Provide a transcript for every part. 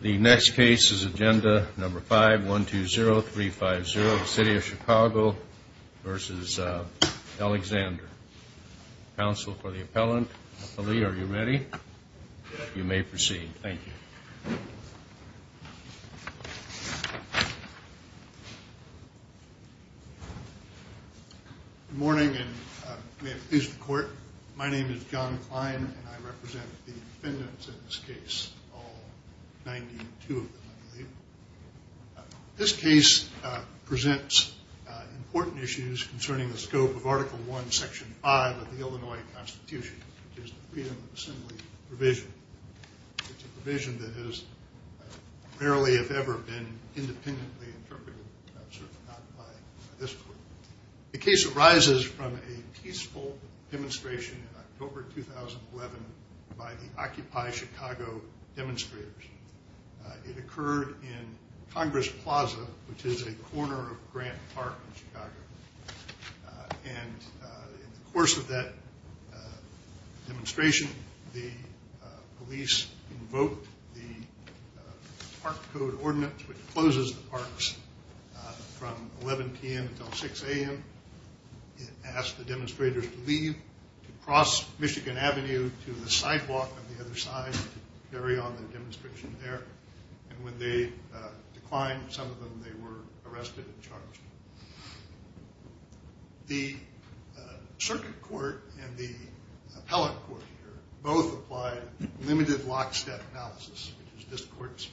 The next case is agenda number 5-120-350, the City of Chicago v. Alexander. Counsel for the appellant. Appellee, are you ready? You may proceed. Thank you. My name is John Klein, and I represent the defendants in this case, all 92 of them, I believe. This case presents important issues concerning the scope of Article I, Section 5 of the Illinois Constitution, which is the Freedom of Assembly provision. It's a provision that has rarely, if ever, been independently interpreted, certainly not by this court. The case arises from a peaceful demonstration in October 2011 by the Occupy Chicago demonstrators. It occurred in Congress Plaza, which is a corner of Grant Park in Chicago. And in the course of that demonstration, the police invoked the Park Code Ordinance, which closes the parks from 11 p.m. until 6 a.m. It asked the demonstrators to leave, to cross Michigan Avenue to the sidewalk on the other side, to carry on the demonstration there. And when they declined, some of them, they were arrested and charged. The circuit court and the appellate court here both applied limited lockstep analysis, which is this court's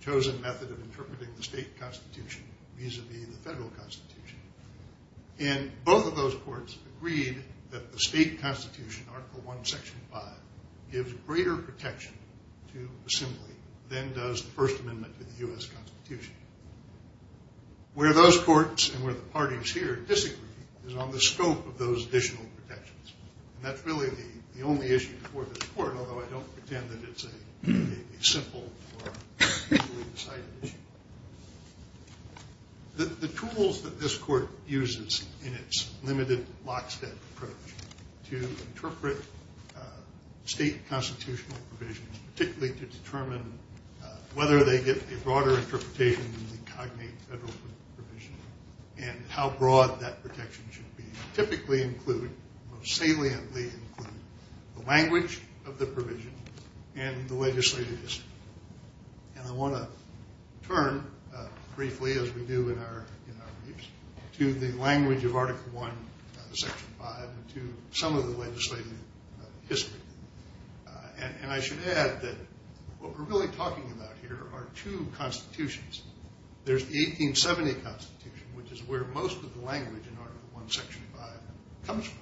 chosen method of interpreting the state constitution vis-a-vis the federal constitution. And both of those courts agreed that the state constitution, Article I, Section 5, gives greater protection to assembly than does the First Amendment to the U.S. Constitution. Where those courts and where the parties here disagree is on the scope of those additional protections. And that's really the only issue before this court, although I don't pretend that it's a simple or easily decided issue. The tools that this court uses in its limited lockstep approach to interpret state constitutional provisions, particularly to determine whether they get a broader interpretation than the cognate federal provision and how broad that protection should be, typically include, most saliently include, the language of the provision and the legislative history. And I want to turn briefly, as we do in our briefs, to the language of Article I, Section 5, and to some of the legislative history. And I should add that what we're really talking about here are two constitutions. There's the 1870 Constitution, which is where most of the language in Article I, Section 5, comes from.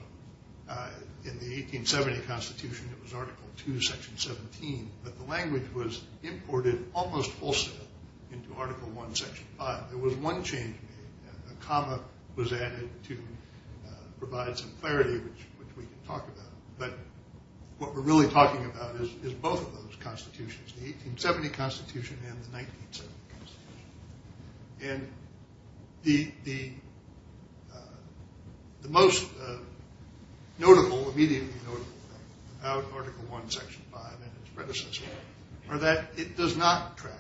In the 1870 Constitution, it was Article II, Section 17. But the language was imported almost wholesale into Article I, Section 5. There was one change made. A comma was added to provide some clarity, which we can talk about. But what we're really talking about is both of those constitutions, the 1870 Constitution and the 1970 Constitution. And the most notable, immediately notable thing about Article I, Section 5 and its predecessor are that it does not track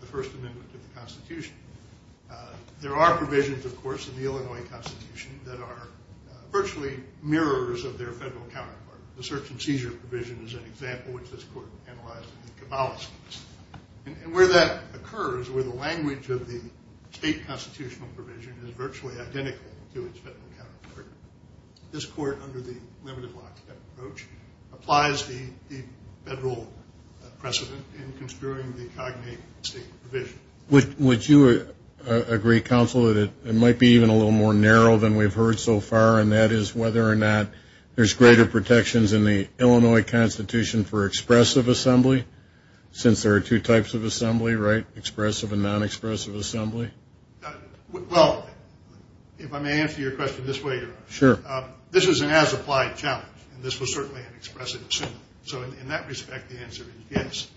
the First Amendment to the Constitution. There are provisions, of course, in the Illinois Constitution that are virtually mirrors of their federal counterpart. The search and seizure provision is an example, which this court analyzed in the Cabales case. And where that occurs, where the language of the state constitutional provision is virtually identical to its federal counterpart, this court, under the limited law approach, applies the federal precedent in construing the cognate state provision. Would you agree, Counsel, that it might be even a little more narrow than we've heard so far, and that is whether or not there's greater protections in the Illinois Constitution for expressive assembly since there are two types of assembly, right, expressive and non-expressive assembly? Well, if I may answer your question this way, Your Honor. Sure. This is an as-applied challenge, and this was certainly an expressive assembly. So in that respect, the answer is yes.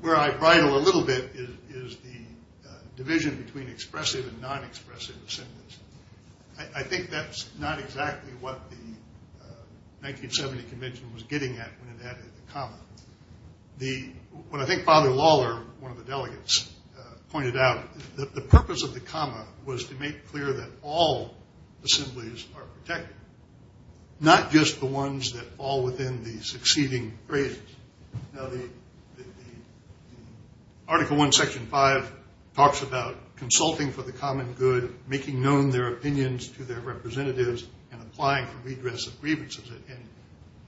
Where I bridle a little bit is the division between expressive and non-expressive assemblies. I think that's not exactly what the 1970 Convention was getting at when it added the comma. What I think Father Lawler, one of the delegates, pointed out, the purpose of the comma was to make clear that all assemblies are protected, not just the ones that fall within the succeeding phrases. Now, the Article I, Section 5 talks about consulting for the common good, making known their opinions to their representatives, and applying for redress of grievances. And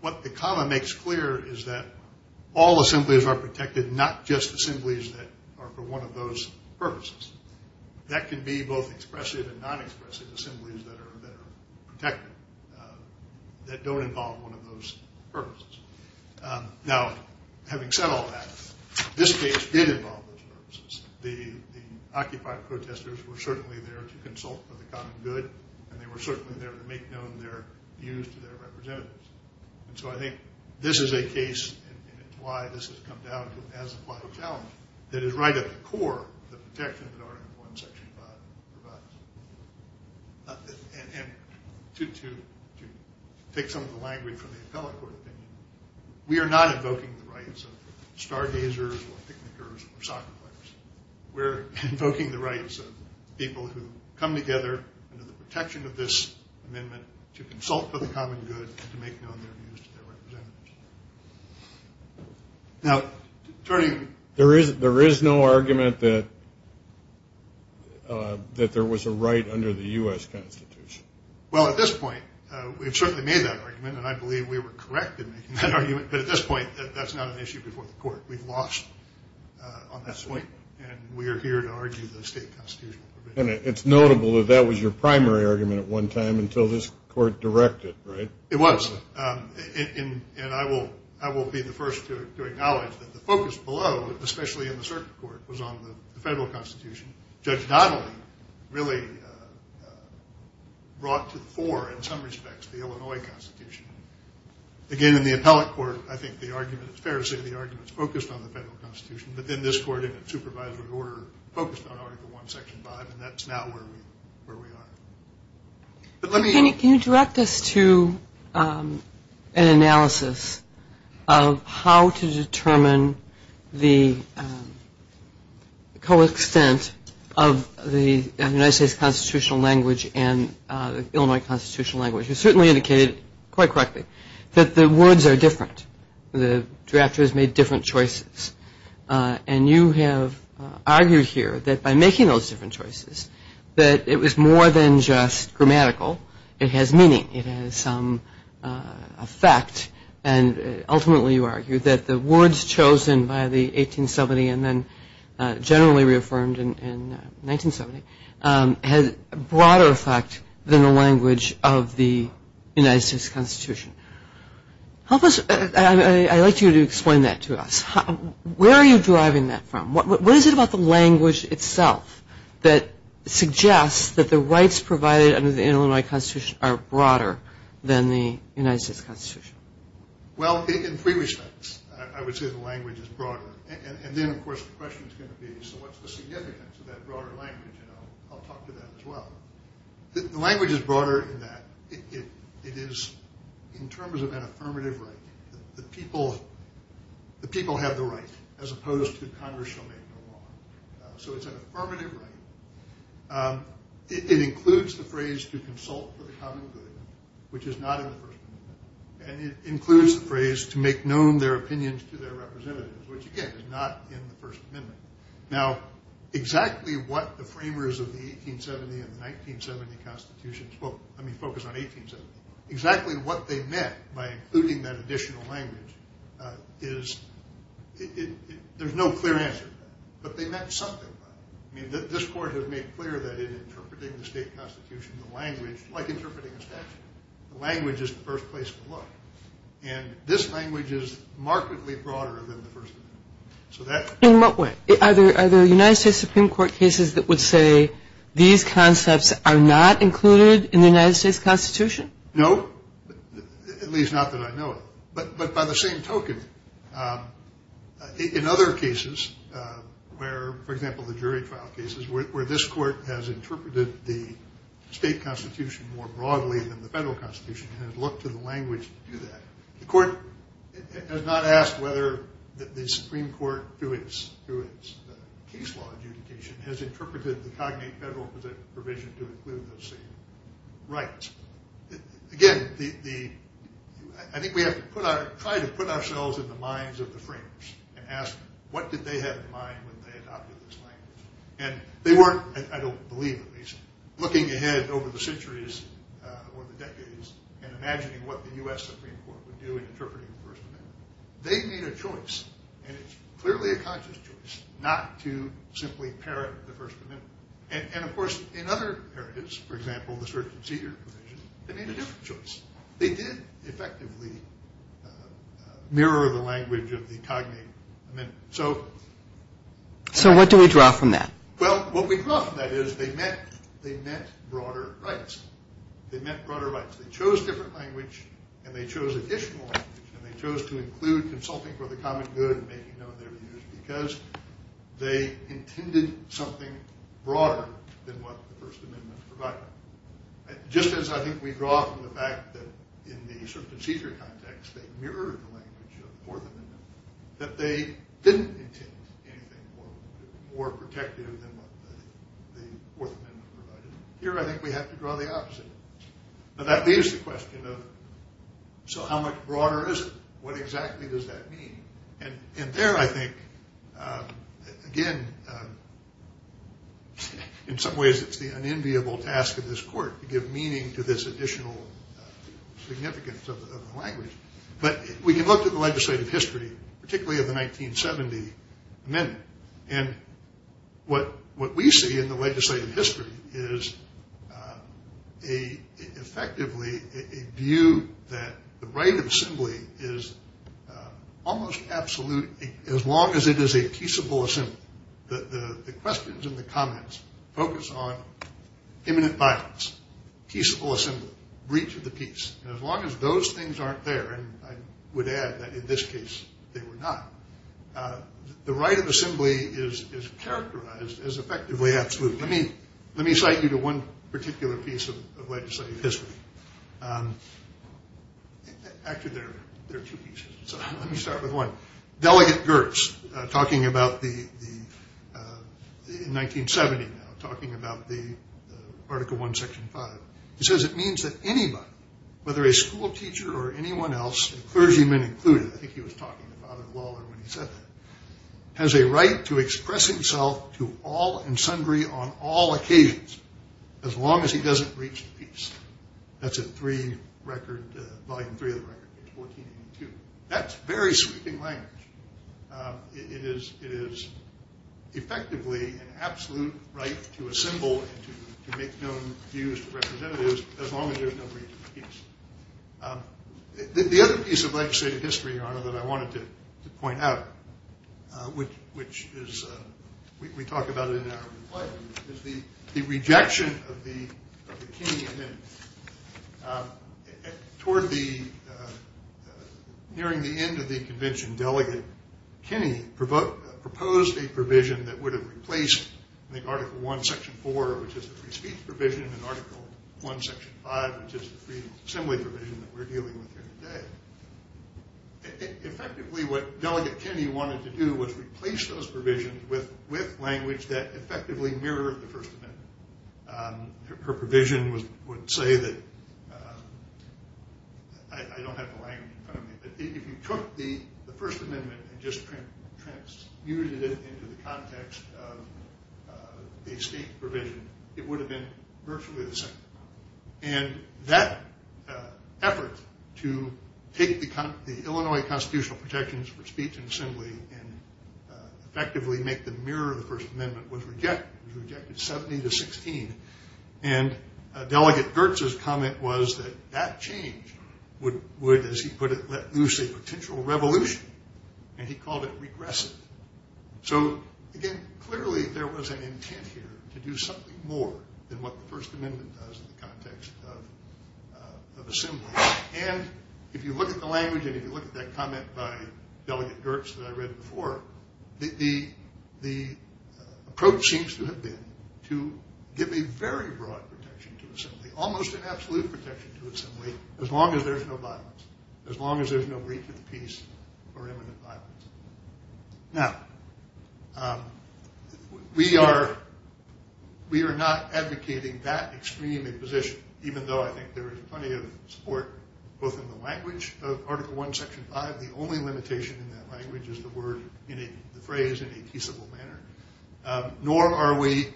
what the comma makes clear is that all assemblies are protected, not just assemblies that are for one of those purposes. That can be both expressive and non-expressive assemblies that are protected, that don't involve one of those purposes. Now, having said all that, this case did involve those purposes. The occupied protesters were certainly there to consult for the common good, and they were certainly there to make known their views to their representatives. And so I think this is a case, and it's why this has come down to an as-applied challenge, that is right at the core of the protection that Article I, Section 5 provides. And to take some of the language from the appellate court opinion, we are not invoking the rights of stargazers or picnickers or soccer players. We're invoking the rights of people who come together under the protection of this amendment to consult for the common good and to make known their views to their representatives. Now, Attorney. There is no argument that there was a right under the U.S. Constitution. Well, at this point, we've certainly made that argument, and I believe we were correct in making that argument. But at this point, that's not an issue before the court. We've lost on that point, and we are here to argue the state constitutional provision. And it's notable that that was your primary argument at one time until this court directed, right? It was. And I will be the first to acknowledge that the focus below, especially in the circuit court, was on the federal constitution. Judge Donnelly really brought to the fore, in some respects, the Illinois Constitution. Again, in the appellate court, I think the argument is fair to say the argument is focused on the federal constitution, but then this court in a supervisory order focused on Article I, Section 5, and that's now where we are. Can you direct us to an analysis of how to determine the co-extent of the United States constitutional language and the Illinois constitutional language? You certainly indicated quite correctly that the words are different. The drafters made different choices. And you have argued here that by making those different choices, that it was more than just grammatical. It has meaning. It has some effect. And ultimately, you argued that the words chosen by the 1870 and then generally reaffirmed in 1970 had a broader effect than the language of the United States Constitution. I'd like you to explain that to us. Where are you deriving that from? What is it about the language itself that suggests that the rights provided under the Illinois Constitution are broader than the United States Constitution? Well, in three respects, I would say the language is broader. And then, of course, the question is going to be, so what's the significance of that broader language? And I'll talk to that as well. The language is broader in that. It is in terms of an affirmative right. The people have the right as opposed to Congress shall make no law. So it's an affirmative right. It includes the phrase to consult for the common good, which is not in the First Amendment. And it includes the phrase to make known their opinions to their representatives, which, again, is not in the First Amendment. Now, exactly what the framers of the 1870 and the 1970 Constitution spoke, I mean, focus on 1870, exactly what they meant by including that additional language is there's no clear answer to that. But they meant something by it. I mean, this Court has made clear that in interpreting the state constitution, the language, like interpreting a statute, the language is the first place to look. And this language is markedly broader than the First Amendment. In what way? Are there United States Supreme Court cases that would say these concepts are not included in the United States Constitution? No, at least not that I know of. But by the same token, in other cases where, for example, the jury trial cases, where this Court has interpreted the state constitution more broadly than the federal constitution and has looked to the language to do that, the Court has not asked whether the Supreme Court, through its case law adjudication, has interpreted the cognate federal provision to include those same rights. Again, I think we have to try to put ourselves in the minds of the framers and ask what did they have in mind when they adopted this language. And they weren't, I don't believe at least, looking ahead over the centuries or the decades and imagining what the U.S. Supreme Court would do in interpreting the First Amendment. They made a choice, and it's clearly a conscious choice, not to simply parrot the First Amendment. And, of course, in other narratives, for example, the search and seizure provision, they made a different choice. They did effectively mirror the language of the cognate amendment. So what do we draw from that? Well, what we draw from that is they meant broader rights. They meant broader rights. They chose different language, and they chose additional language, and they chose to include consulting for the common good and making known their views because they intended something broader than what the First Amendment provided. Just as I think we draw from the fact that in the search and seizure context, they mirrored the language of the Fourth Amendment, that they didn't intend anything more protective than what the Fourth Amendment provided. Here I think we have to draw the opposite. But that leaves the question of, so how much broader is it? What exactly does that mean? And there I think, again, in some ways it's the unenviable task of this court to give meaning to this additional significance of the language. But we can look at the legislative history, particularly of the 1970 amendment, and what we see in the legislative history is effectively a view that the right of assembly is almost absolute as long as it is a peaceable assembly. The questions and the comments focus on imminent violence, peaceable assembly, breach of the peace. As long as those things aren't there, and I would add that in this case they were not, the right of assembly is characterized as effectively absolute. Let me cite you to one particular piece of legislative history. Actually, there are two pieces, so let me start with one. Delegate Gertz, in 1970, talking about the Article I, Section 5. He says it means that anybody, whether a school teacher or anyone else, clergyman included, I think he was talking about it when he said that, has a right to express himself to all and sundry on all occasions as long as he doesn't breach the peace. That's in Volume 3 of the record, page 1482. That's very sweeping language. It is effectively an absolute right to assemble and to make known views to representatives as long as there is no breach of the peace. The other piece of legislative history, Your Honor, that I wanted to point out, which we talk about in our reply to you, is the rejection of the Kinney Amendment. Toward the nearing the end of the convention, Delegate Kinney proposed a provision that would have replaced, I think, Article I, Section 4, which is the free speech provision, and Article I, Section 5, which is the free assembly provision that we're dealing with here today. Effectively, what Delegate Kinney wanted to do was replace those provisions with language that effectively mirrored the First Amendment. Her provision would say that, I don't have the language in front of me, but if you took the First Amendment and just transmuted it into the context of a state provision, it would have been virtually the same. And that effort to take the Illinois Constitutional protections for speech and assembly and effectively make them mirror the First Amendment was rejected. It was rejected 70 to 16. And Delegate Gertz's comment was that that change would, as he put it, let loose a potential revolution, and he called it regressive. So, again, clearly there was an intent here to do something more than what the First Amendment does in the context of assembly. And if you look at the language and if you look at that comment by Delegate Gertz that I read before, the approach seems to have been to give a very broad protection to assembly, almost an absolute protection to assembly, as long as there's no violence, as long as there's no breach of the peace or imminent violence. Now, we are not advocating that extreme a position, even though I think there is plenty of support both in the language of Article I, Section 5. The only limitation in that language is the phrase in a peaceable manner, nor are we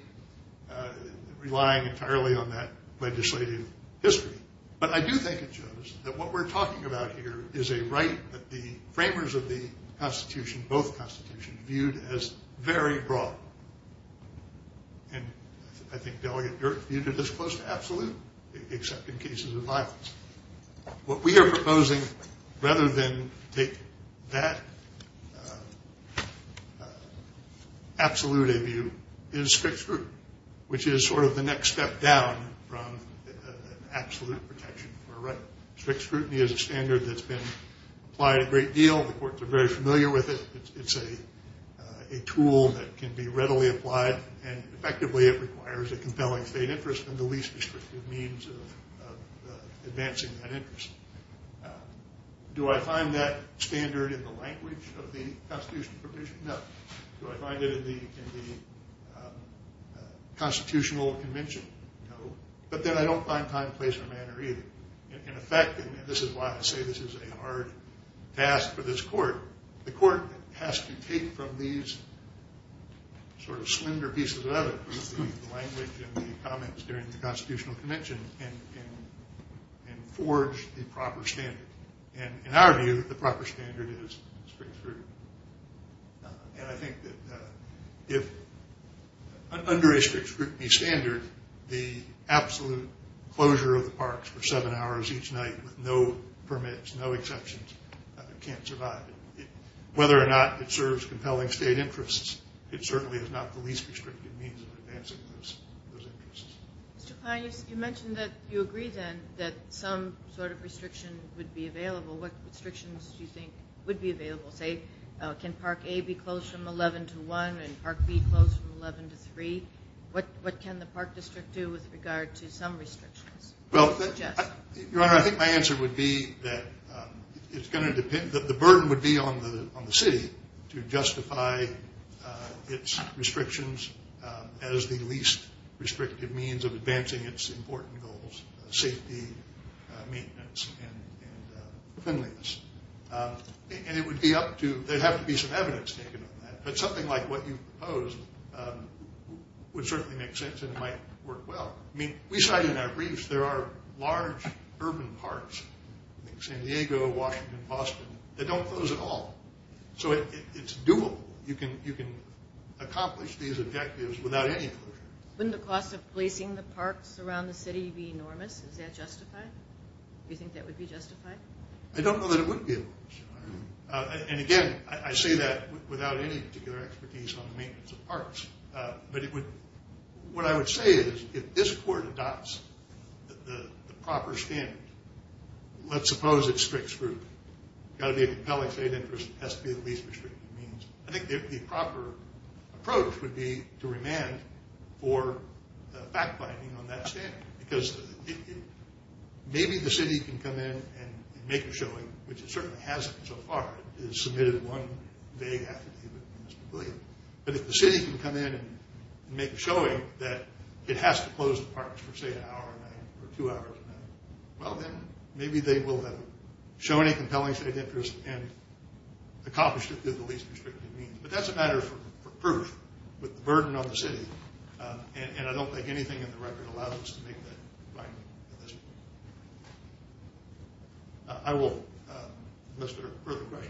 relying entirely on that legislative history. But I do think it shows that what we're talking about here is a right that the framers of the Constitution, both Constitutions, viewed as very broad. And I think Delegate Gertz viewed it as close to absolute, except in cases of violence. What we are proposing, rather than take that absolute a view, is strict scrutiny, which is sort of the next step down from absolute protection for a right. Strict scrutiny is a standard that's been applied a great deal. The courts are very familiar with it. It's a tool that can be readily applied, and effectively it requires a compelling state interest and the least restrictive means of advancing that interest. Do I find that standard in the language of the Constitution provision? No. Do I find it in the Constitutional Convention? No. But then I don't find time, place, or manner either. In effect, and this is why I say this is a hard task for this court, the court has to take from these sort of slender pieces of evidence, the language and the comments during the Constitutional Convention, and forge the proper standard. And in our view, the proper standard is strict scrutiny. And I think that if under a strict scrutiny standard, the absolute closure of the parks for seven hours each night with no permits, no exceptions, can't survive. Whether or not it serves compelling state interests, it certainly is not the least restrictive means of advancing those interests. Mr. Kline, you mentioned that you agree then that some sort of restriction would be available. What restrictions do you think would be available? Say, can Park A be closed from 11 to 1 and Park B closed from 11 to 3? What can the Park District do with regard to some restrictions? Well, Your Honor, I think my answer would be that it's going to depend, the burden would be on the city to justify its restrictions as the least restrictive means of advancing its important goals, safety, maintenance, and cleanliness. And it would be up to, there would have to be some evidence taken on that. But something like what you proposed would certainly make sense and might work well. I mean, we cite in our briefs there are large urban parks, like San Diego, Washington, Boston, that don't close at all. So it's doable. You can accomplish these objectives without any closure. Wouldn't the cost of placing the parks around the city be enormous? Is that justified? Do you think that would be justified? I don't know that it would be, Your Honor. But what I would say is if this Court adopts the proper standard, let's suppose it's strict scrutiny. It's got to be a compelling state interest. It has to be the least restrictive means. I think the proper approach would be to remand for fact-finding on that standard. Because maybe the city can come in and make a showing, which it certainly hasn't so far. It has submitted one vague affidavit. But if the city can come in and make a showing that it has to close the parks for, say, an hour or two hours, well, then maybe they will have shown a compelling state interest and accomplished it through the least restrictive means. But that's a matter for proof with the burden on the city. And I don't think anything in the record allows us to make that finding. I will. Mr. Rutherford.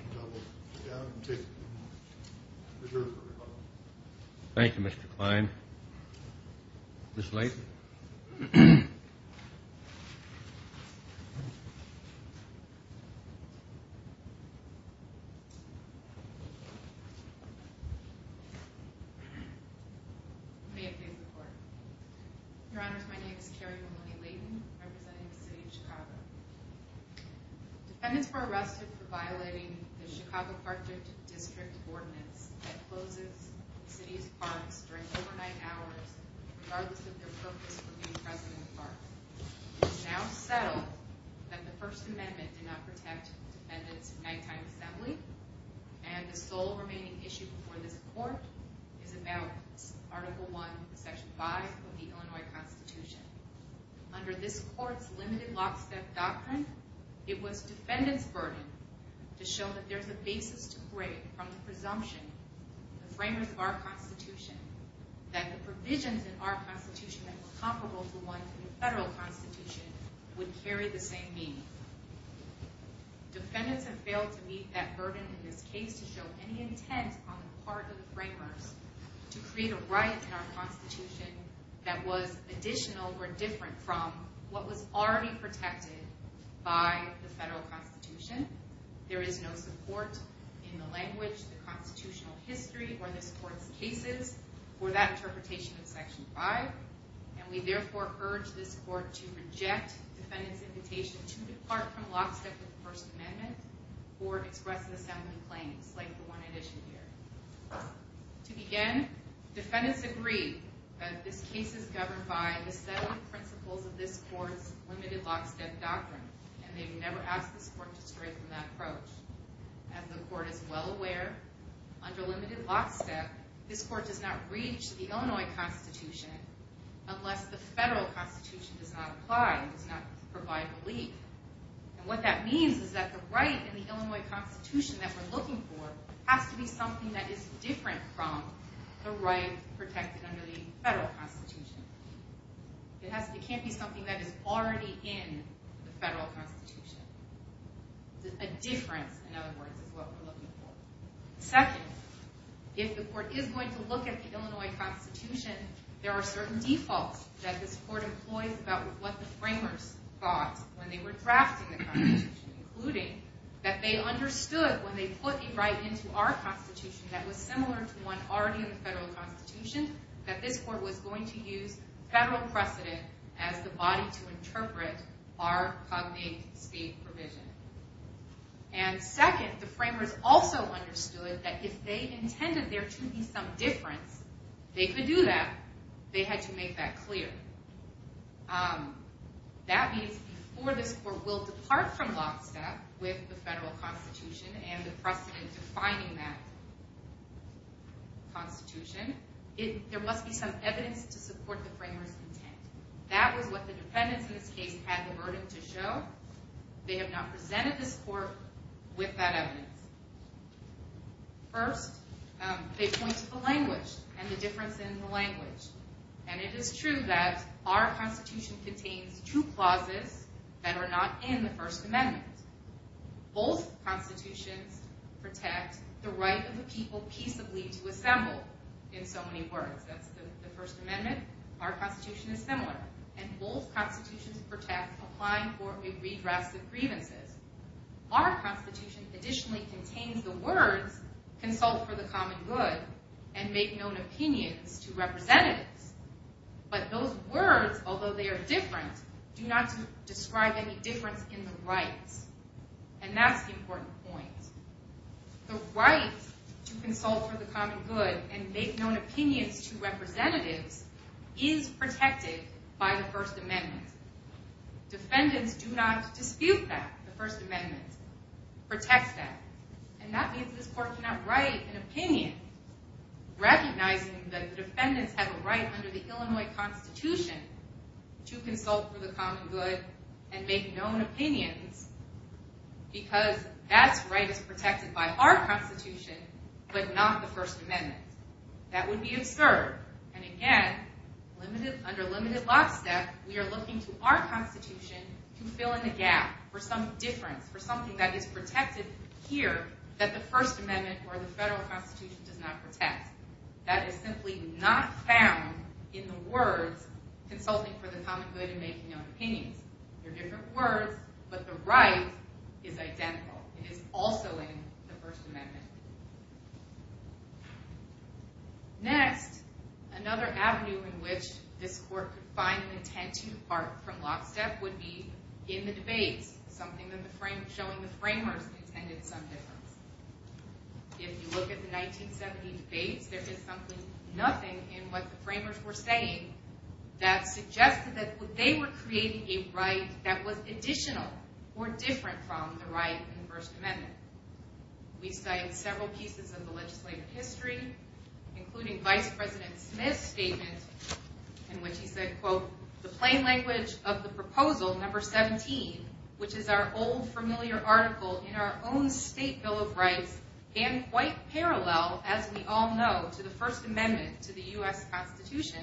Thank you, Mr. Klein. Ms. Layton. May it please the Court. Your Honors, my name is Carrie Maloney Layton, representing the City of Chicago. Defendants were arrested for violating the Chicago Park District Ordinance that closes the city's parks during overnight hours, regardless of their purpose for being present in the parks. It is now settled that the First Amendment did not protect defendants from nighttime assembly, and the sole remaining issue before this Court is about Article I, Section 5 of the Illinois Constitution. Under this Court's limited lockstep doctrine, it was defendants' burden to show that there's a basis to create from the presumption, the framers of our Constitution, that the provisions in our Constitution that were comparable to ones in the federal Constitution would carry the same meaning. Defendants have failed to meet that burden in this case to show any intent on the part of the framers to create a right in our Constitution that was additional or different from what was already protected by the federal Constitution. There is no support in the language, the constitutional history, or this Court's cases for that interpretation of Section 5. We therefore urge this Court to reject defendants' invitation to depart from lockstep with the First Amendment or express assembly claims like the one at issue here. To begin, defendants agree that this case is governed by the seven principles of this Court's limited lockstep doctrine, and they would never ask this Court to stray from that approach. As the Court is well aware, under limited lockstep, this Court does not reach the Illinois Constitution unless the federal Constitution does not apply, does not provide relief. And what that means is that the right in the Illinois Constitution that we're looking for has to be something that is different from the right protected under the federal Constitution. It can't be something that is already in the federal Constitution. A difference, in other words, is what we're looking for. Second, if the Court is going to look at the Illinois Constitution, there are certain defaults that this Court employs about what the framers thought when they were drafting the Constitution, including that they understood when they put a right into our Constitution that was similar to one already in the federal Constitution, that this Court was going to use federal precedent as the body to interpret our cognate state provision. And second, the framers also understood that if they intended there to be some difference, they could do that, they had to make that clear. That means before this Court will depart from lockstep with the federal Constitution and the precedent defining that Constitution, there must be some evidence to support the framers' intent. That was what the defendants in this case had the burden to show. They have not presented this Court with that evidence. First, they point to the language and the difference in the language. And it is true that our Constitution contains two clauses that are not in the First Amendment. Both Constitutions protect the right of a people peaceably to assemble, in so many words. That's the First Amendment. Our Constitution is similar. And both Constitutions protect applying for a redress of grievances. Our Constitution additionally contains the words, consult for the common good, and make known opinions to representatives. But those words, although they are different, do not describe any difference in the rights. And that's the important point. The right to consult for the common good and make known opinions to representatives is protected by the First Amendment. Defendants do not dispute that. The First Amendment protects that. And that means this Court cannot write an opinion recognizing that defendants have a right under the Illinois Constitution to consult for the common good and make known opinions because that right is protected by our Constitution but not the First Amendment. That would be absurd. And again, under limited last step, we are looking to our Constitution to fill in the gap for some difference, for something that is protected here that the First Amendment or the federal Constitution does not protect. That is simply not found in the words, consulting for the common good and making known opinions. They're different words, but the right is identical. It is also in the First Amendment. Next, another avenue in which this Court could find an intent to depart from lockstep would be in the debates, something showing the framers intended some difference. If you look at the 1970 debates, there is simply nothing in what the framers were saying that suggested that they were creating a right that was additional or different from the right in the First Amendment. We cite several pieces of the legislative history, including Vice President Smith's statement in which he said, quote, the plain language of the proposal number 17, which is our old familiar article in our own State Bill of Rights, and quite parallel, as we all know, to the First Amendment to the U.S. Constitution.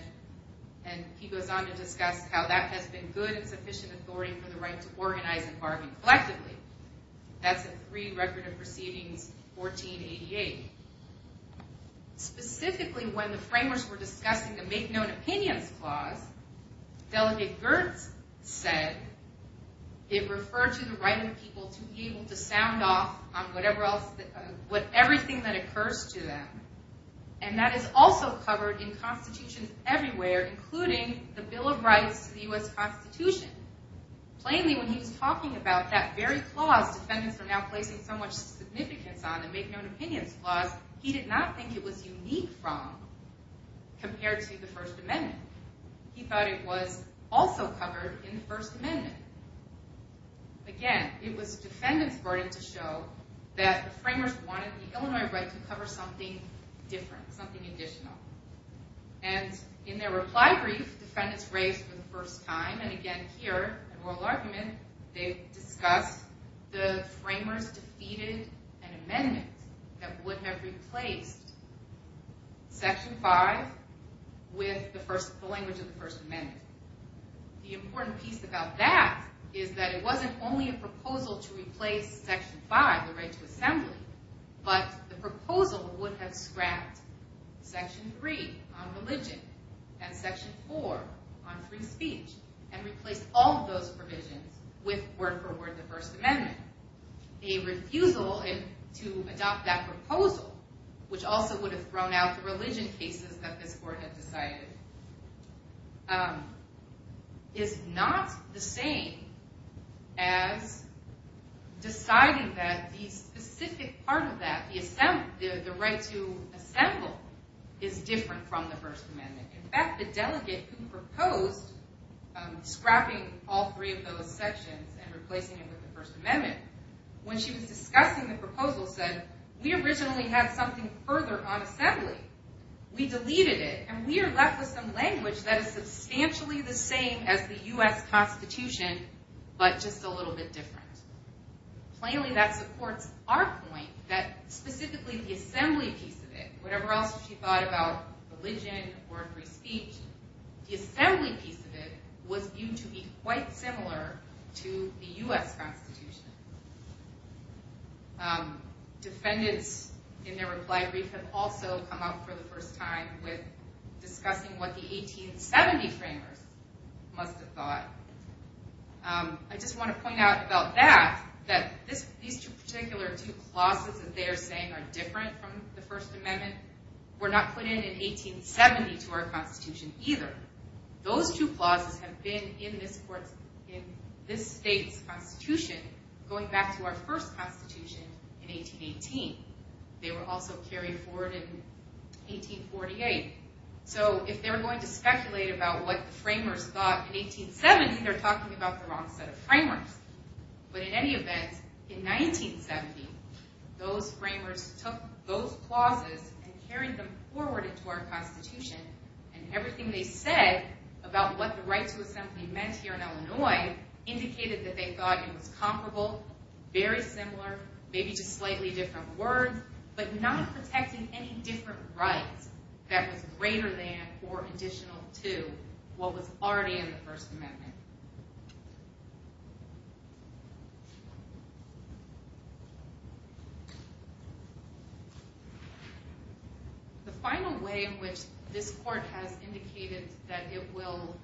And he goes on to discuss how that has been good and sufficient authority for the right to organize and bargain collectively. That's in 3 Record of Proceedings 1488. Specifically, when the framers were discussing the Make Known Opinions Clause, Delegate Gertz said it referred to the right of the people to be able to sound off on everything that occurs to them. And that is also covered in constitutions everywhere, including the Bill of Rights to the U.S. Constitution. Plainly, when he was talking about that very clause defendants are now placing so much significance on, the Make Known Opinions Clause, he did not think it was unique from, compared to the First Amendment. He thought it was also covered in the First Amendment. Again, it was defendants' burden to show that the framers wanted the Illinois right to cover something different, something additional. And in their reply brief, defendants raised for the first time, and again here, in Rural Argument, they discuss the framers defeated an amendment that would have replaced Section 5 with the language of the First Amendment. The important piece about that is that it wasn't only a proposal to replace Section 5, the right to assembly, but the proposal would have scrapped Section 3 on religion and Section 4 on free speech, and replaced all of those provisions with word-for-word the First Amendment. A refusal to adopt that proposal, which also would have thrown out the religion cases that this Court had decided, is not the same as deciding that the specific part of that, the right to assemble, is different from the First Amendment. In fact, the delegate who proposed scrapping all three of those sections and replacing it with the First Amendment, when she was discussing the proposal, said, we originally had something further on assembly. We deleted it, and we are left with some language that is substantially the same as the U.S. Constitution, but just a little bit different. Plainly, that supports our point that specifically the assembly piece of it, whatever else she thought about religion or free speech, the assembly piece of it was viewed to be quite similar to the U.S. Constitution. Defendants, in their reply brief, have also come up for the first time with discussing what the 1870 framers must have thought. I just want to point out about that, that these two particular clauses that they are saying are different from the First Amendment were not put in in 1870 to our Constitution either. Those two clauses have been in this state's Constitution going back to our first Constitution in 1818. They were also carried forward in 1848. So if they were going to speculate about what the framers thought in 1870, they're talking about the wrong set of framers. But in any event, in 1970, those framers took those clauses and carried them forward into our Constitution, and everything they said about what the right to assembly meant here in Illinois indicated that they thought it was comparable, very similar, maybe just slightly different words, but not protecting any different rights that was greater than or additional to what was already in the First Amendment. The final way in which this Court has indicated that it will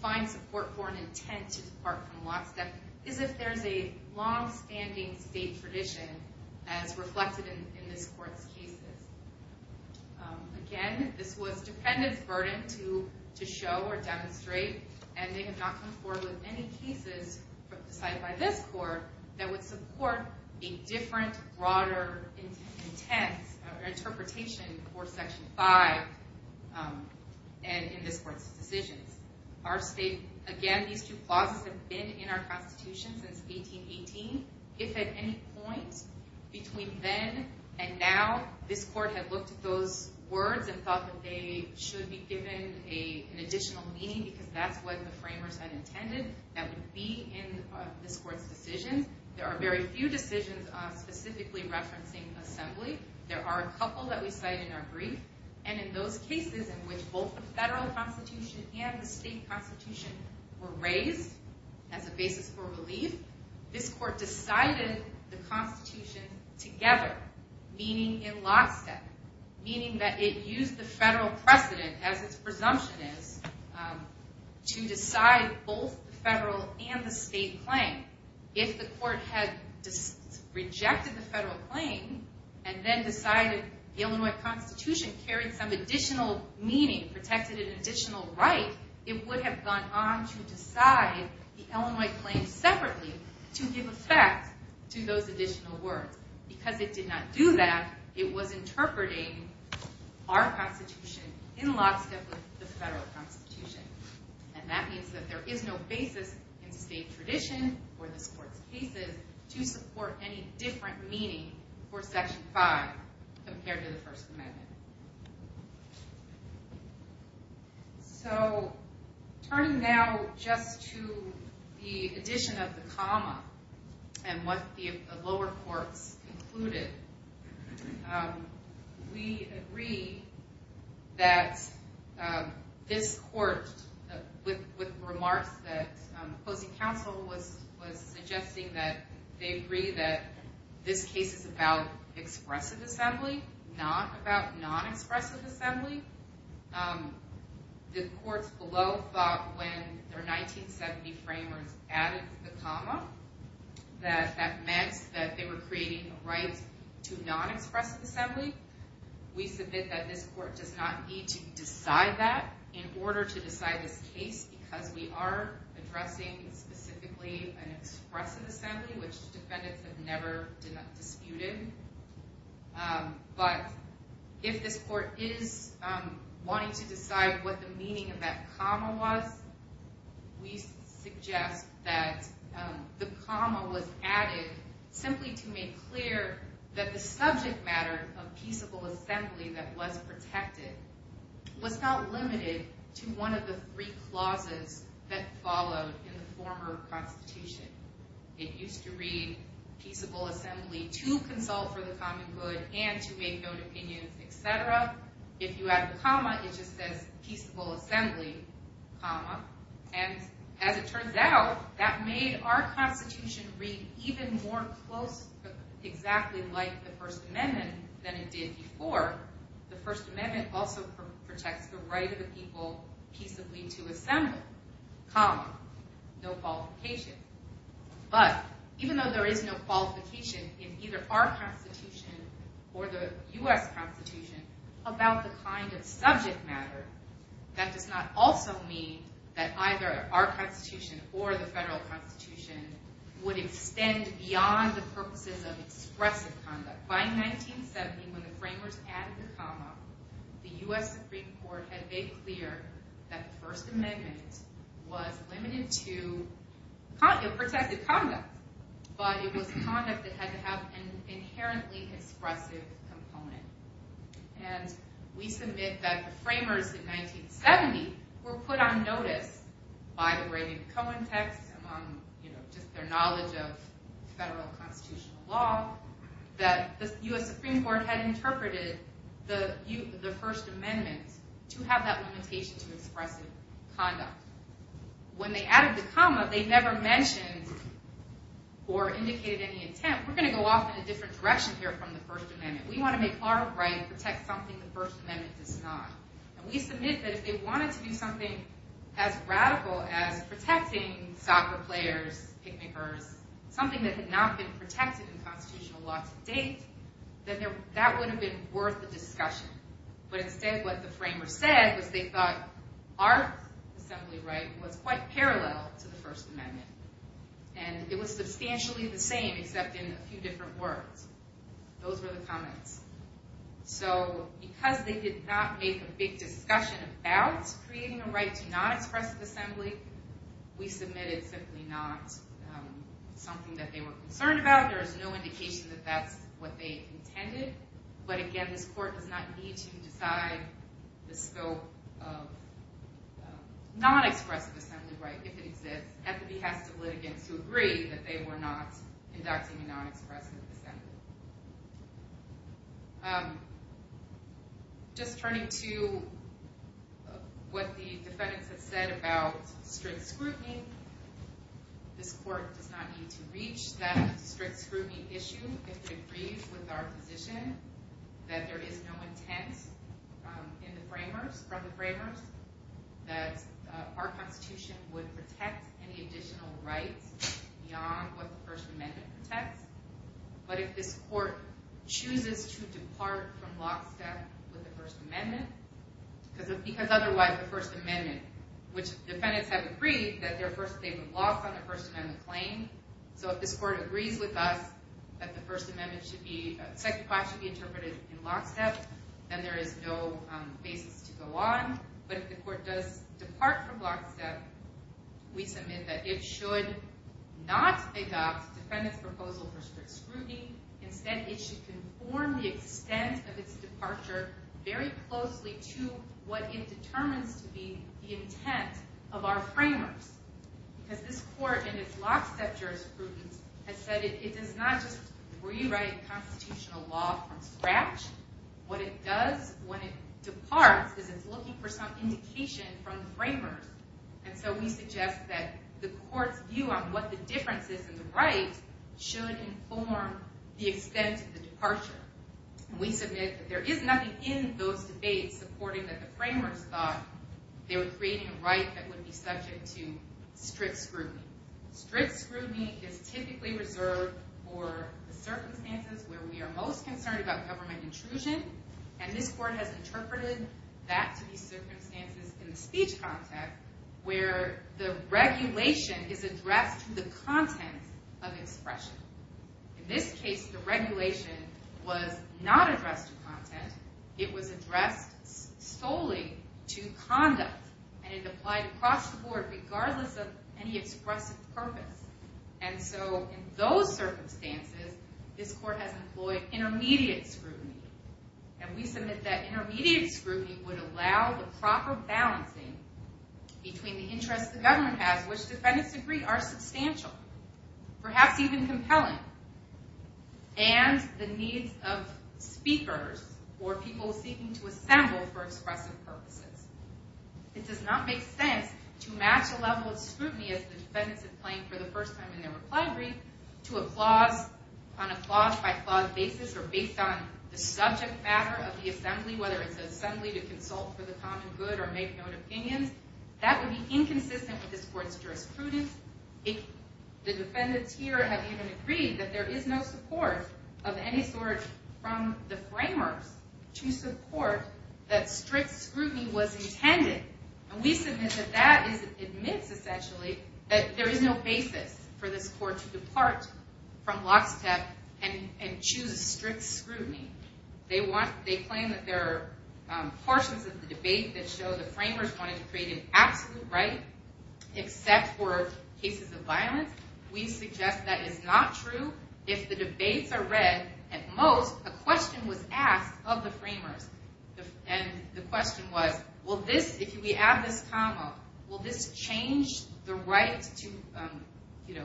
find support for an intent to depart from lockstep is if there's a longstanding state tradition as reflected in this Court's cases. Again, this was dependents' burden to show or demonstrate, and they have not come forward with any cases cited by this Court that would support a different, broader intent or interpretation for Section 5 in this Court's decisions. Again, these two clauses have been in our Constitution since 1818. If at any point between then and now this Court had looked at those words and thought that they should be given an additional meaning, because that's what the framers had intended that would be in this Court's decisions, there are very few decisions specifically referencing assembly. There are a couple that we cite in our brief, and in those cases in which both the federal Constitution and the state Constitution were raised as a basis for relief, this Court decided the Constitution together, meaning in lockstep, meaning that it used the federal precedent, as its presumption is, to decide both the federal and the state claim. If the Court had rejected the federal claim and then decided the Illinois Constitution carried some additional meaning, protected an additional right, it would have gone on to decide the Illinois claim separately to give effect to those additional words. Because it did not do that, it was interpreting our Constitution in lockstep with the federal Constitution. And that means that there is no basis in state tradition or this Court's cases to support any different meaning for Section 5 compared to the First Amendment. So, turning now just to the addition of the comma and what the lower courts concluded, we agree that this Court, with remarks that opposing counsel was suggesting, that they agree that this case is about expressive assembly, not about non-expressive assembly. The courts below thought when their 1970 framers added the comma, that that meant that they were creating a right to non-expressive assembly. We submit that this Court does not need to decide that in order to decide this case because we are addressing specifically an expressive assembly, which defendants have never disputed. But if this Court is wanting to decide what the meaning of that comma was, we suggest that the comma was added simply to make clear that the subject matter of peaceable assembly that was protected was not limited to one of the three clauses that followed in the former Constitution. It used to read, peaceable assembly to consult for the common good and to make known opinions, etc. If you add a comma, it just says, peaceable assembly, comma. And as it turns out, that made our Constitution read even more close, exactly like the First Amendment than it did before. The First Amendment also protects the right of the people peaceably to assemble, comma. No qualification. But even though there is no qualification in either our Constitution or the U.S. Constitution about the kind of subject matter, that does not also mean that either our Constitution or the federal Constitution would extend beyond the purposes of expressive conduct. By 1970, when the Framers added the comma, the U.S. Supreme Court had made clear that the First Amendment was limited to protected conduct, but it was conduct that had to have an inherently expressive component. And we submit that the Framers in 1970 were put on notice, by the writing of the Cohen text, among their knowledge of federal constitutional law, that the U.S. Supreme Court had interpreted the First Amendment to have that limitation to expressive conduct. When they added the comma, they never mentioned or indicated any intent. We're going to go off in a different direction here from the First Amendment. We want to make our right protect something the First Amendment does not. And we submit that if they wanted to do something as radical as protecting soccer players, picnickers, something that had not been protected in constitutional law to date, then that wouldn't have been worth the discussion. But instead, what the Framers said was they thought our assembly right was quite parallel to the First Amendment. And it was substantially the same, except in a few different words. Those were the comments. So because they did not make a big discussion about creating a right to non-expressive assembly, we submitted simply not something that they were concerned about. There is no indication that that's what they intended. But again, this Court does not need to decide the scope of non-expressive assembly right, if it exists, at the behest of litigants who agree that they were not inducting a non-expressive assembly. Just turning to what the defendants have said about strict scrutiny, this Court does not need to reach that strict scrutiny issue if it agrees with our position that there is no intent from the Framers that our Constitution would protect any additional rights beyond what the First Amendment protects. But if this Court chooses to depart from lockstep with the First Amendment, because otherwise the First Amendment, which defendants have agreed that they would lock on the First Amendment claim, so if this Court agrees with us that the Second Part should be interpreted in lockstep, then there is no basis to go on. But if the Court does depart from lockstep, we submit that it should not adopt defendants' proposal for strict scrutiny. Instead, it should conform the extent of its departure very closely to what it determines to be the intent of our Framers. Because this Court, in its lockstep jurisprudence, has said it does not just rewrite constitutional law from scratch. What it does when it departs is it's looking for some indication from the Framers. And so we suggest that the Court's view on what the difference is in the rights should inform the extent of the departure. We submit that there is nothing in those debates supporting that the Framers thought they were creating a right that would be subject to strict scrutiny. Strict scrutiny is typically reserved for the circumstances where we are most concerned about government intrusion, and this Court has interpreted that to be circumstances in the speech context where the regulation is addressed to the content of expression. In this case, the regulation was not addressed to content. It was addressed solely to conduct, and it applied across the board regardless of any expressive purpose. And so in those circumstances, this Court has employed intermediate scrutiny. And we submit that intermediate scrutiny would allow the proper balancing between the interests the government has, which defendants agree are substantial, perhaps even compelling, and the needs of speakers or people seeking to assemble for expressive purposes. It does not make sense to match a level of scrutiny as the defendants have claimed for the first time in their reply brief to a clause on a clause-by-clause basis or based on the subject matter of the assembly, whether it's an assembly to consult for the common good or make known opinions. That would be inconsistent with this Court's jurisprudence. The defendants here have even agreed that there is no support of any sort from the framers to support that strict scrutiny was intended. And we submit that that admits, essentially, that there is no basis for this Court to depart from lockstep and choose strict scrutiny. They claim that there are portions of the debate that show the framers wanted to create an absolute right except for cases of violence. We suggest that is not true. If the debates are read, at most, a question was asked of the framers. And the question was, if we add this comma, will this change the right to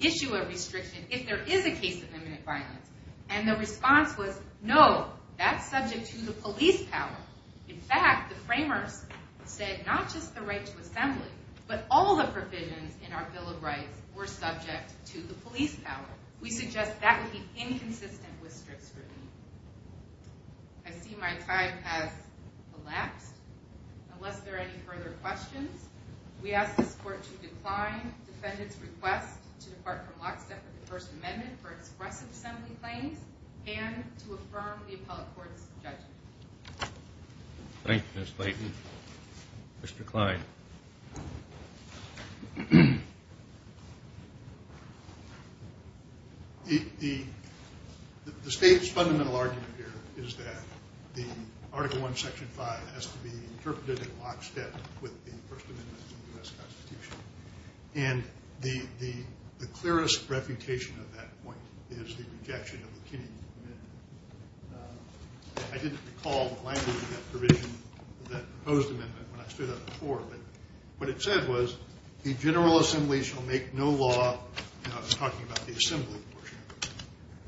issue a restriction if there is a case of imminent violence? And the response was, no, that's subject to the police power. In fact, the framers said not just the right to assembly, but all the provisions in our Bill of Rights were subject to the police power. We suggest that would be inconsistent with strict scrutiny. I see my time has elapsed. Unless there are any further questions, we ask this Court to decline the defendants' request to depart from lockstep with the First Amendment and to affirm the appellate court's judgment. Thank you, Ms. Clayton. Mr. Klein. The State's fundamental argument here is that the Article I, Section 5 has to be interpreted in lockstep with the First Amendment of the U.S. Constitution. And the clearest refutation of that point is the rejection of the Kennedy Amendment. I didn't recall the language of that provision, that proposed amendment, when I stood up before. But what it said was, the General Assembly shall make no law, and I was talking about the assembly portion of it,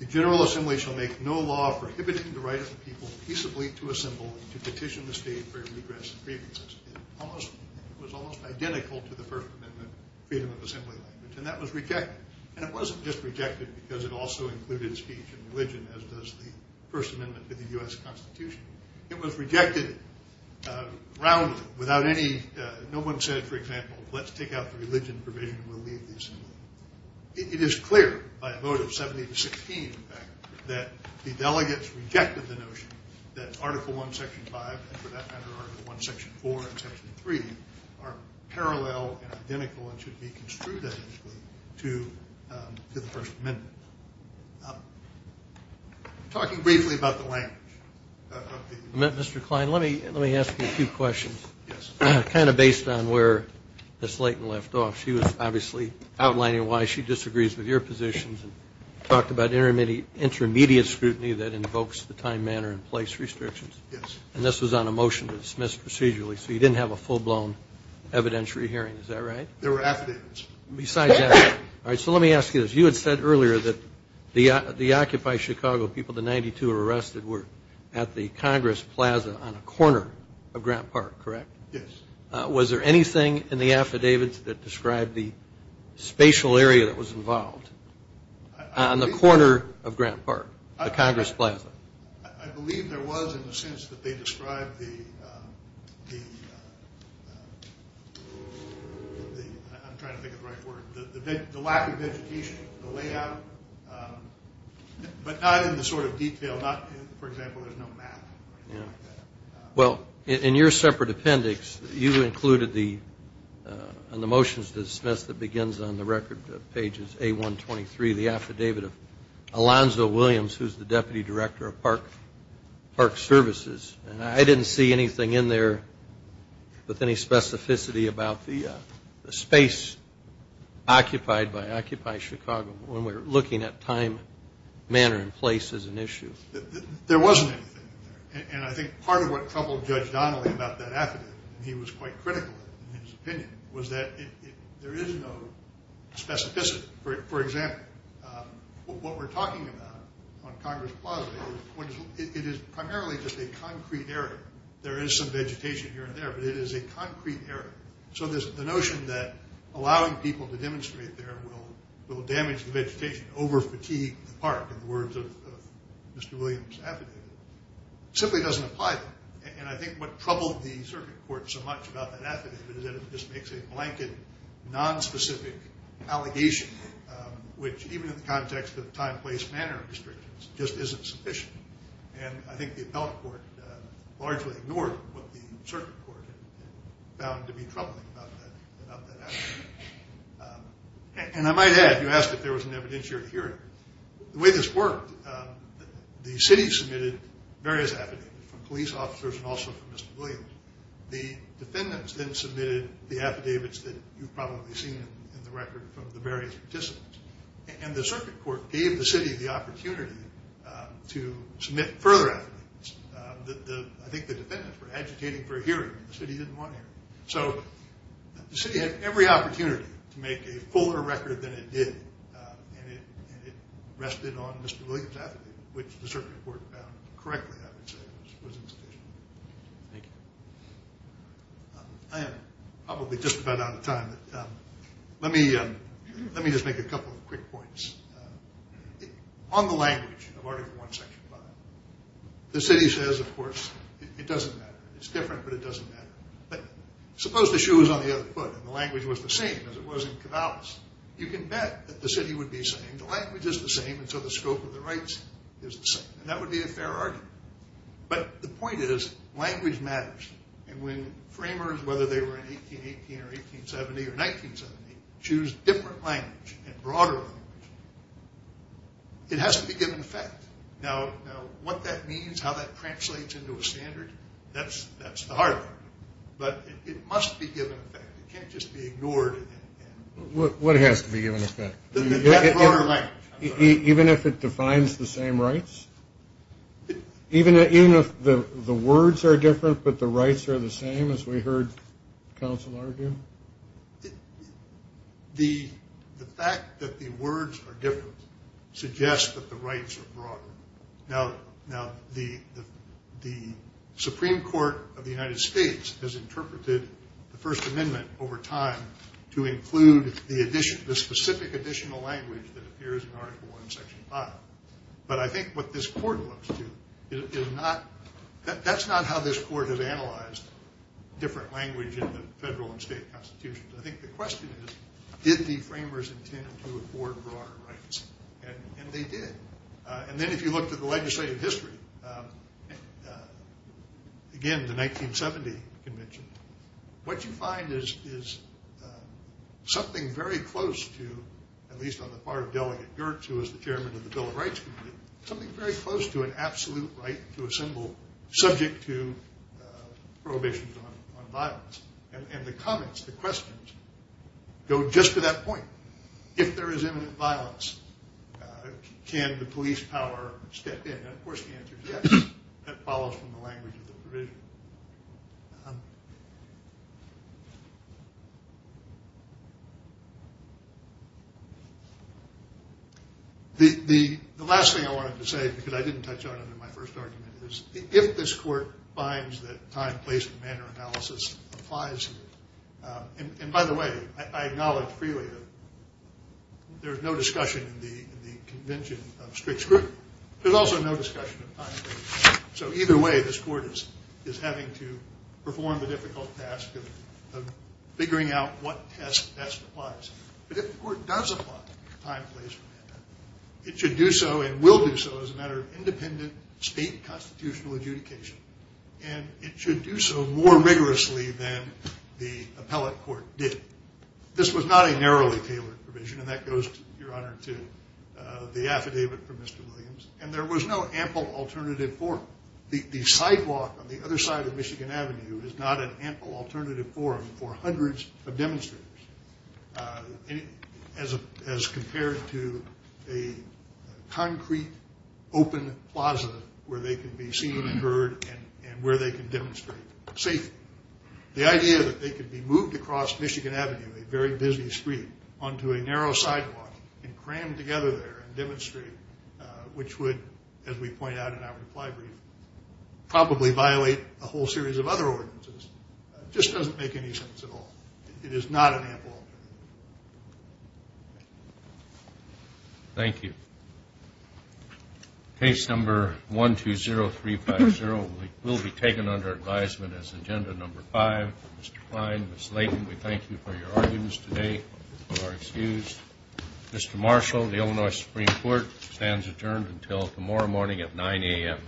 the General Assembly shall make no law prohibiting the right of the people peaceably to assemble and to petition the State for a redress in grievances. It was almost identical to the First Amendment freedom of assembly language, and that was rejected. And it wasn't just rejected because it also included speech and religion, as does the First Amendment to the U.S. Constitution. It was rejected roundly without any – no one said, for example, let's take out the religion provision and we'll leave the assembly. It is clear by a vote of 70 to 16, in fact, that the delegates rejected the notion that Article I, Section 5, and for that matter Article I, Section 4 and Section 3, are parallel and identical and should be construed identically to the First Amendment. Talking briefly about the language. Mr. Klein, let me ask you a few questions. Yes. Kind of based on where Ms. Layton left off, she was obviously outlining why she disagrees with your positions and talked about intermediate scrutiny that invokes the time, manner, and place restrictions. Yes. And this was on a motion to dismiss procedurally, so you didn't have a full-blown evidentiary hearing. Is that right? There were affidavits. Besides that. All right, so let me ask you this. You had said earlier that the Occupy Chicago people, the 92 arrested, were at the Congress Plaza on a corner of Grant Park, correct? Yes. Was there anything in the affidavits that described the spatial area that was involved on the corner of Grant Park, the Congress Plaza? I believe there was in the sense that they described the lack of education, the layout, but not in the sort of detail. For example, there's no map or anything like that. Well, in your separate appendix, you included the motions to dismiss that begins on the record pages A123, the affidavit of Alonzo Williams, who's the Deputy Director of Park Services. And I didn't see anything in there with any specificity about the space occupied by Occupy Chicago when we were looking at time, manner, and place as an issue. There wasn't anything in there. And I think part of what troubled Judge Donnelly about that affidavit, and he was quite critical in his opinion, was that there is no specificity. For example, what we're talking about on Congress Plaza, it is primarily just a concrete area. There is some vegetation here and there, but it is a concrete area. So the notion that allowing people to demonstrate there will damage the vegetation, over-fatigue the park, in the words of Mr. Williams' affidavit, simply doesn't apply there. And I think what troubled the circuit court so much about that affidavit is that it just makes a blanket, nonspecific allegation, which even in the context of time, place, manner restrictions, just isn't sufficient. And I think the appellate court largely ignored what the circuit court found to be troubling about that affidavit. And I might add, you asked if there was an evidentiary hearing. The way this worked, the city submitted various affidavits from police officers and also from Mr. Williams. The defendants then submitted the affidavits that you've probably seen in the record from the various participants. And the circuit court gave the city the opportunity to submit further affidavits. I think the defendants were agitating for a hearing, and the city didn't want a hearing. So the city had every opportunity to make a fuller record than it did, and it rested on Mr. Williams' affidavit, which the circuit court found correctly, I would say, was insufficient. Thank you. I am probably just about out of time, but let me just make a couple of quick points. On the language of Article I, Section 5, the city says, of course, it doesn't matter. It's different, but it doesn't matter. But suppose the shoe was on the other foot, and the language was the same as it was in Cavalis. You can bet that the city would be saying, the language is the same, and so the scope of the rights is the same. And that would be a fair argument. But the point is, language matters. And when framers, whether they were in 1818 or 1870 or 1970, choose different language and broader language, it has to be given effect. Now, what that means, how that translates into a standard, that's the hard part. But it must be given effect. It can't just be ignored. What has to be given effect? Even if it defines the same rights? Even if the words are different but the rights are the same, as we heard counsel argue? The fact that the words are different suggests that the rights are broader. Now, the Supreme Court of the United States has interpreted the First Amendment over time to include the specific additional language that appears in Article I, Section 5. But I think what this court looks to, that's not how this court has analyzed different language in the federal and state constitutions. I think the question is, did the framers intend to afford broader rights? And they did. And then if you looked at the legislative history, again, the 1970 convention, what you find is something very close to, at least on the part of Delegate Girtz, who was the chairman of the Bill of Rights Committee, something very close to an absolute right to assemble subject to prohibitions on violence. And the comments, the questions go just to that point. If there is imminent violence, can the police power step in? And of course the answer is yes. That follows from the language of the provision. The last thing I wanted to say, because I didn't touch on it in my first argument, is if this court finds that time, place, and manner analysis applies here, and by the way, I acknowledge freely that there is no discussion in the convention of strict scrutiny. There's also no discussion of time, place, and manner. So either way, this court is having to perform the difficult task of figuring out what test best applies. But if the court does apply time, place, and manner, it should do so and will do so as a matter of independent state constitutional adjudication. And it should do so more rigorously than the appellate court did. This was not a narrowly tailored provision, and that goes, Your Honor, to the affidavit from Mr. Williams, and there was no ample alternative forum. The sidewalk on the other side of Michigan Avenue is not an ample alternative forum for hundreds of demonstrators as compared to a concrete open plaza where they can be seen and heard and where they can demonstrate safely. The idea that they could be moved across Michigan Avenue, a very busy street, onto a narrow sidewalk and crammed together there and demonstrate, which would, as we point out in our reply brief, probably violate a whole series of other ordinances, just doesn't make any sense at all. It is not an ample alternative. Thank you. Case number 120350 will be taken under advisement as agenda number five. Mr. Klein, Ms. Layton, we thank you for your arguments today. You are excused. Mr. Marshall, the Illinois Supreme Court, stands adjourned until tomorrow morning at 9 a.m.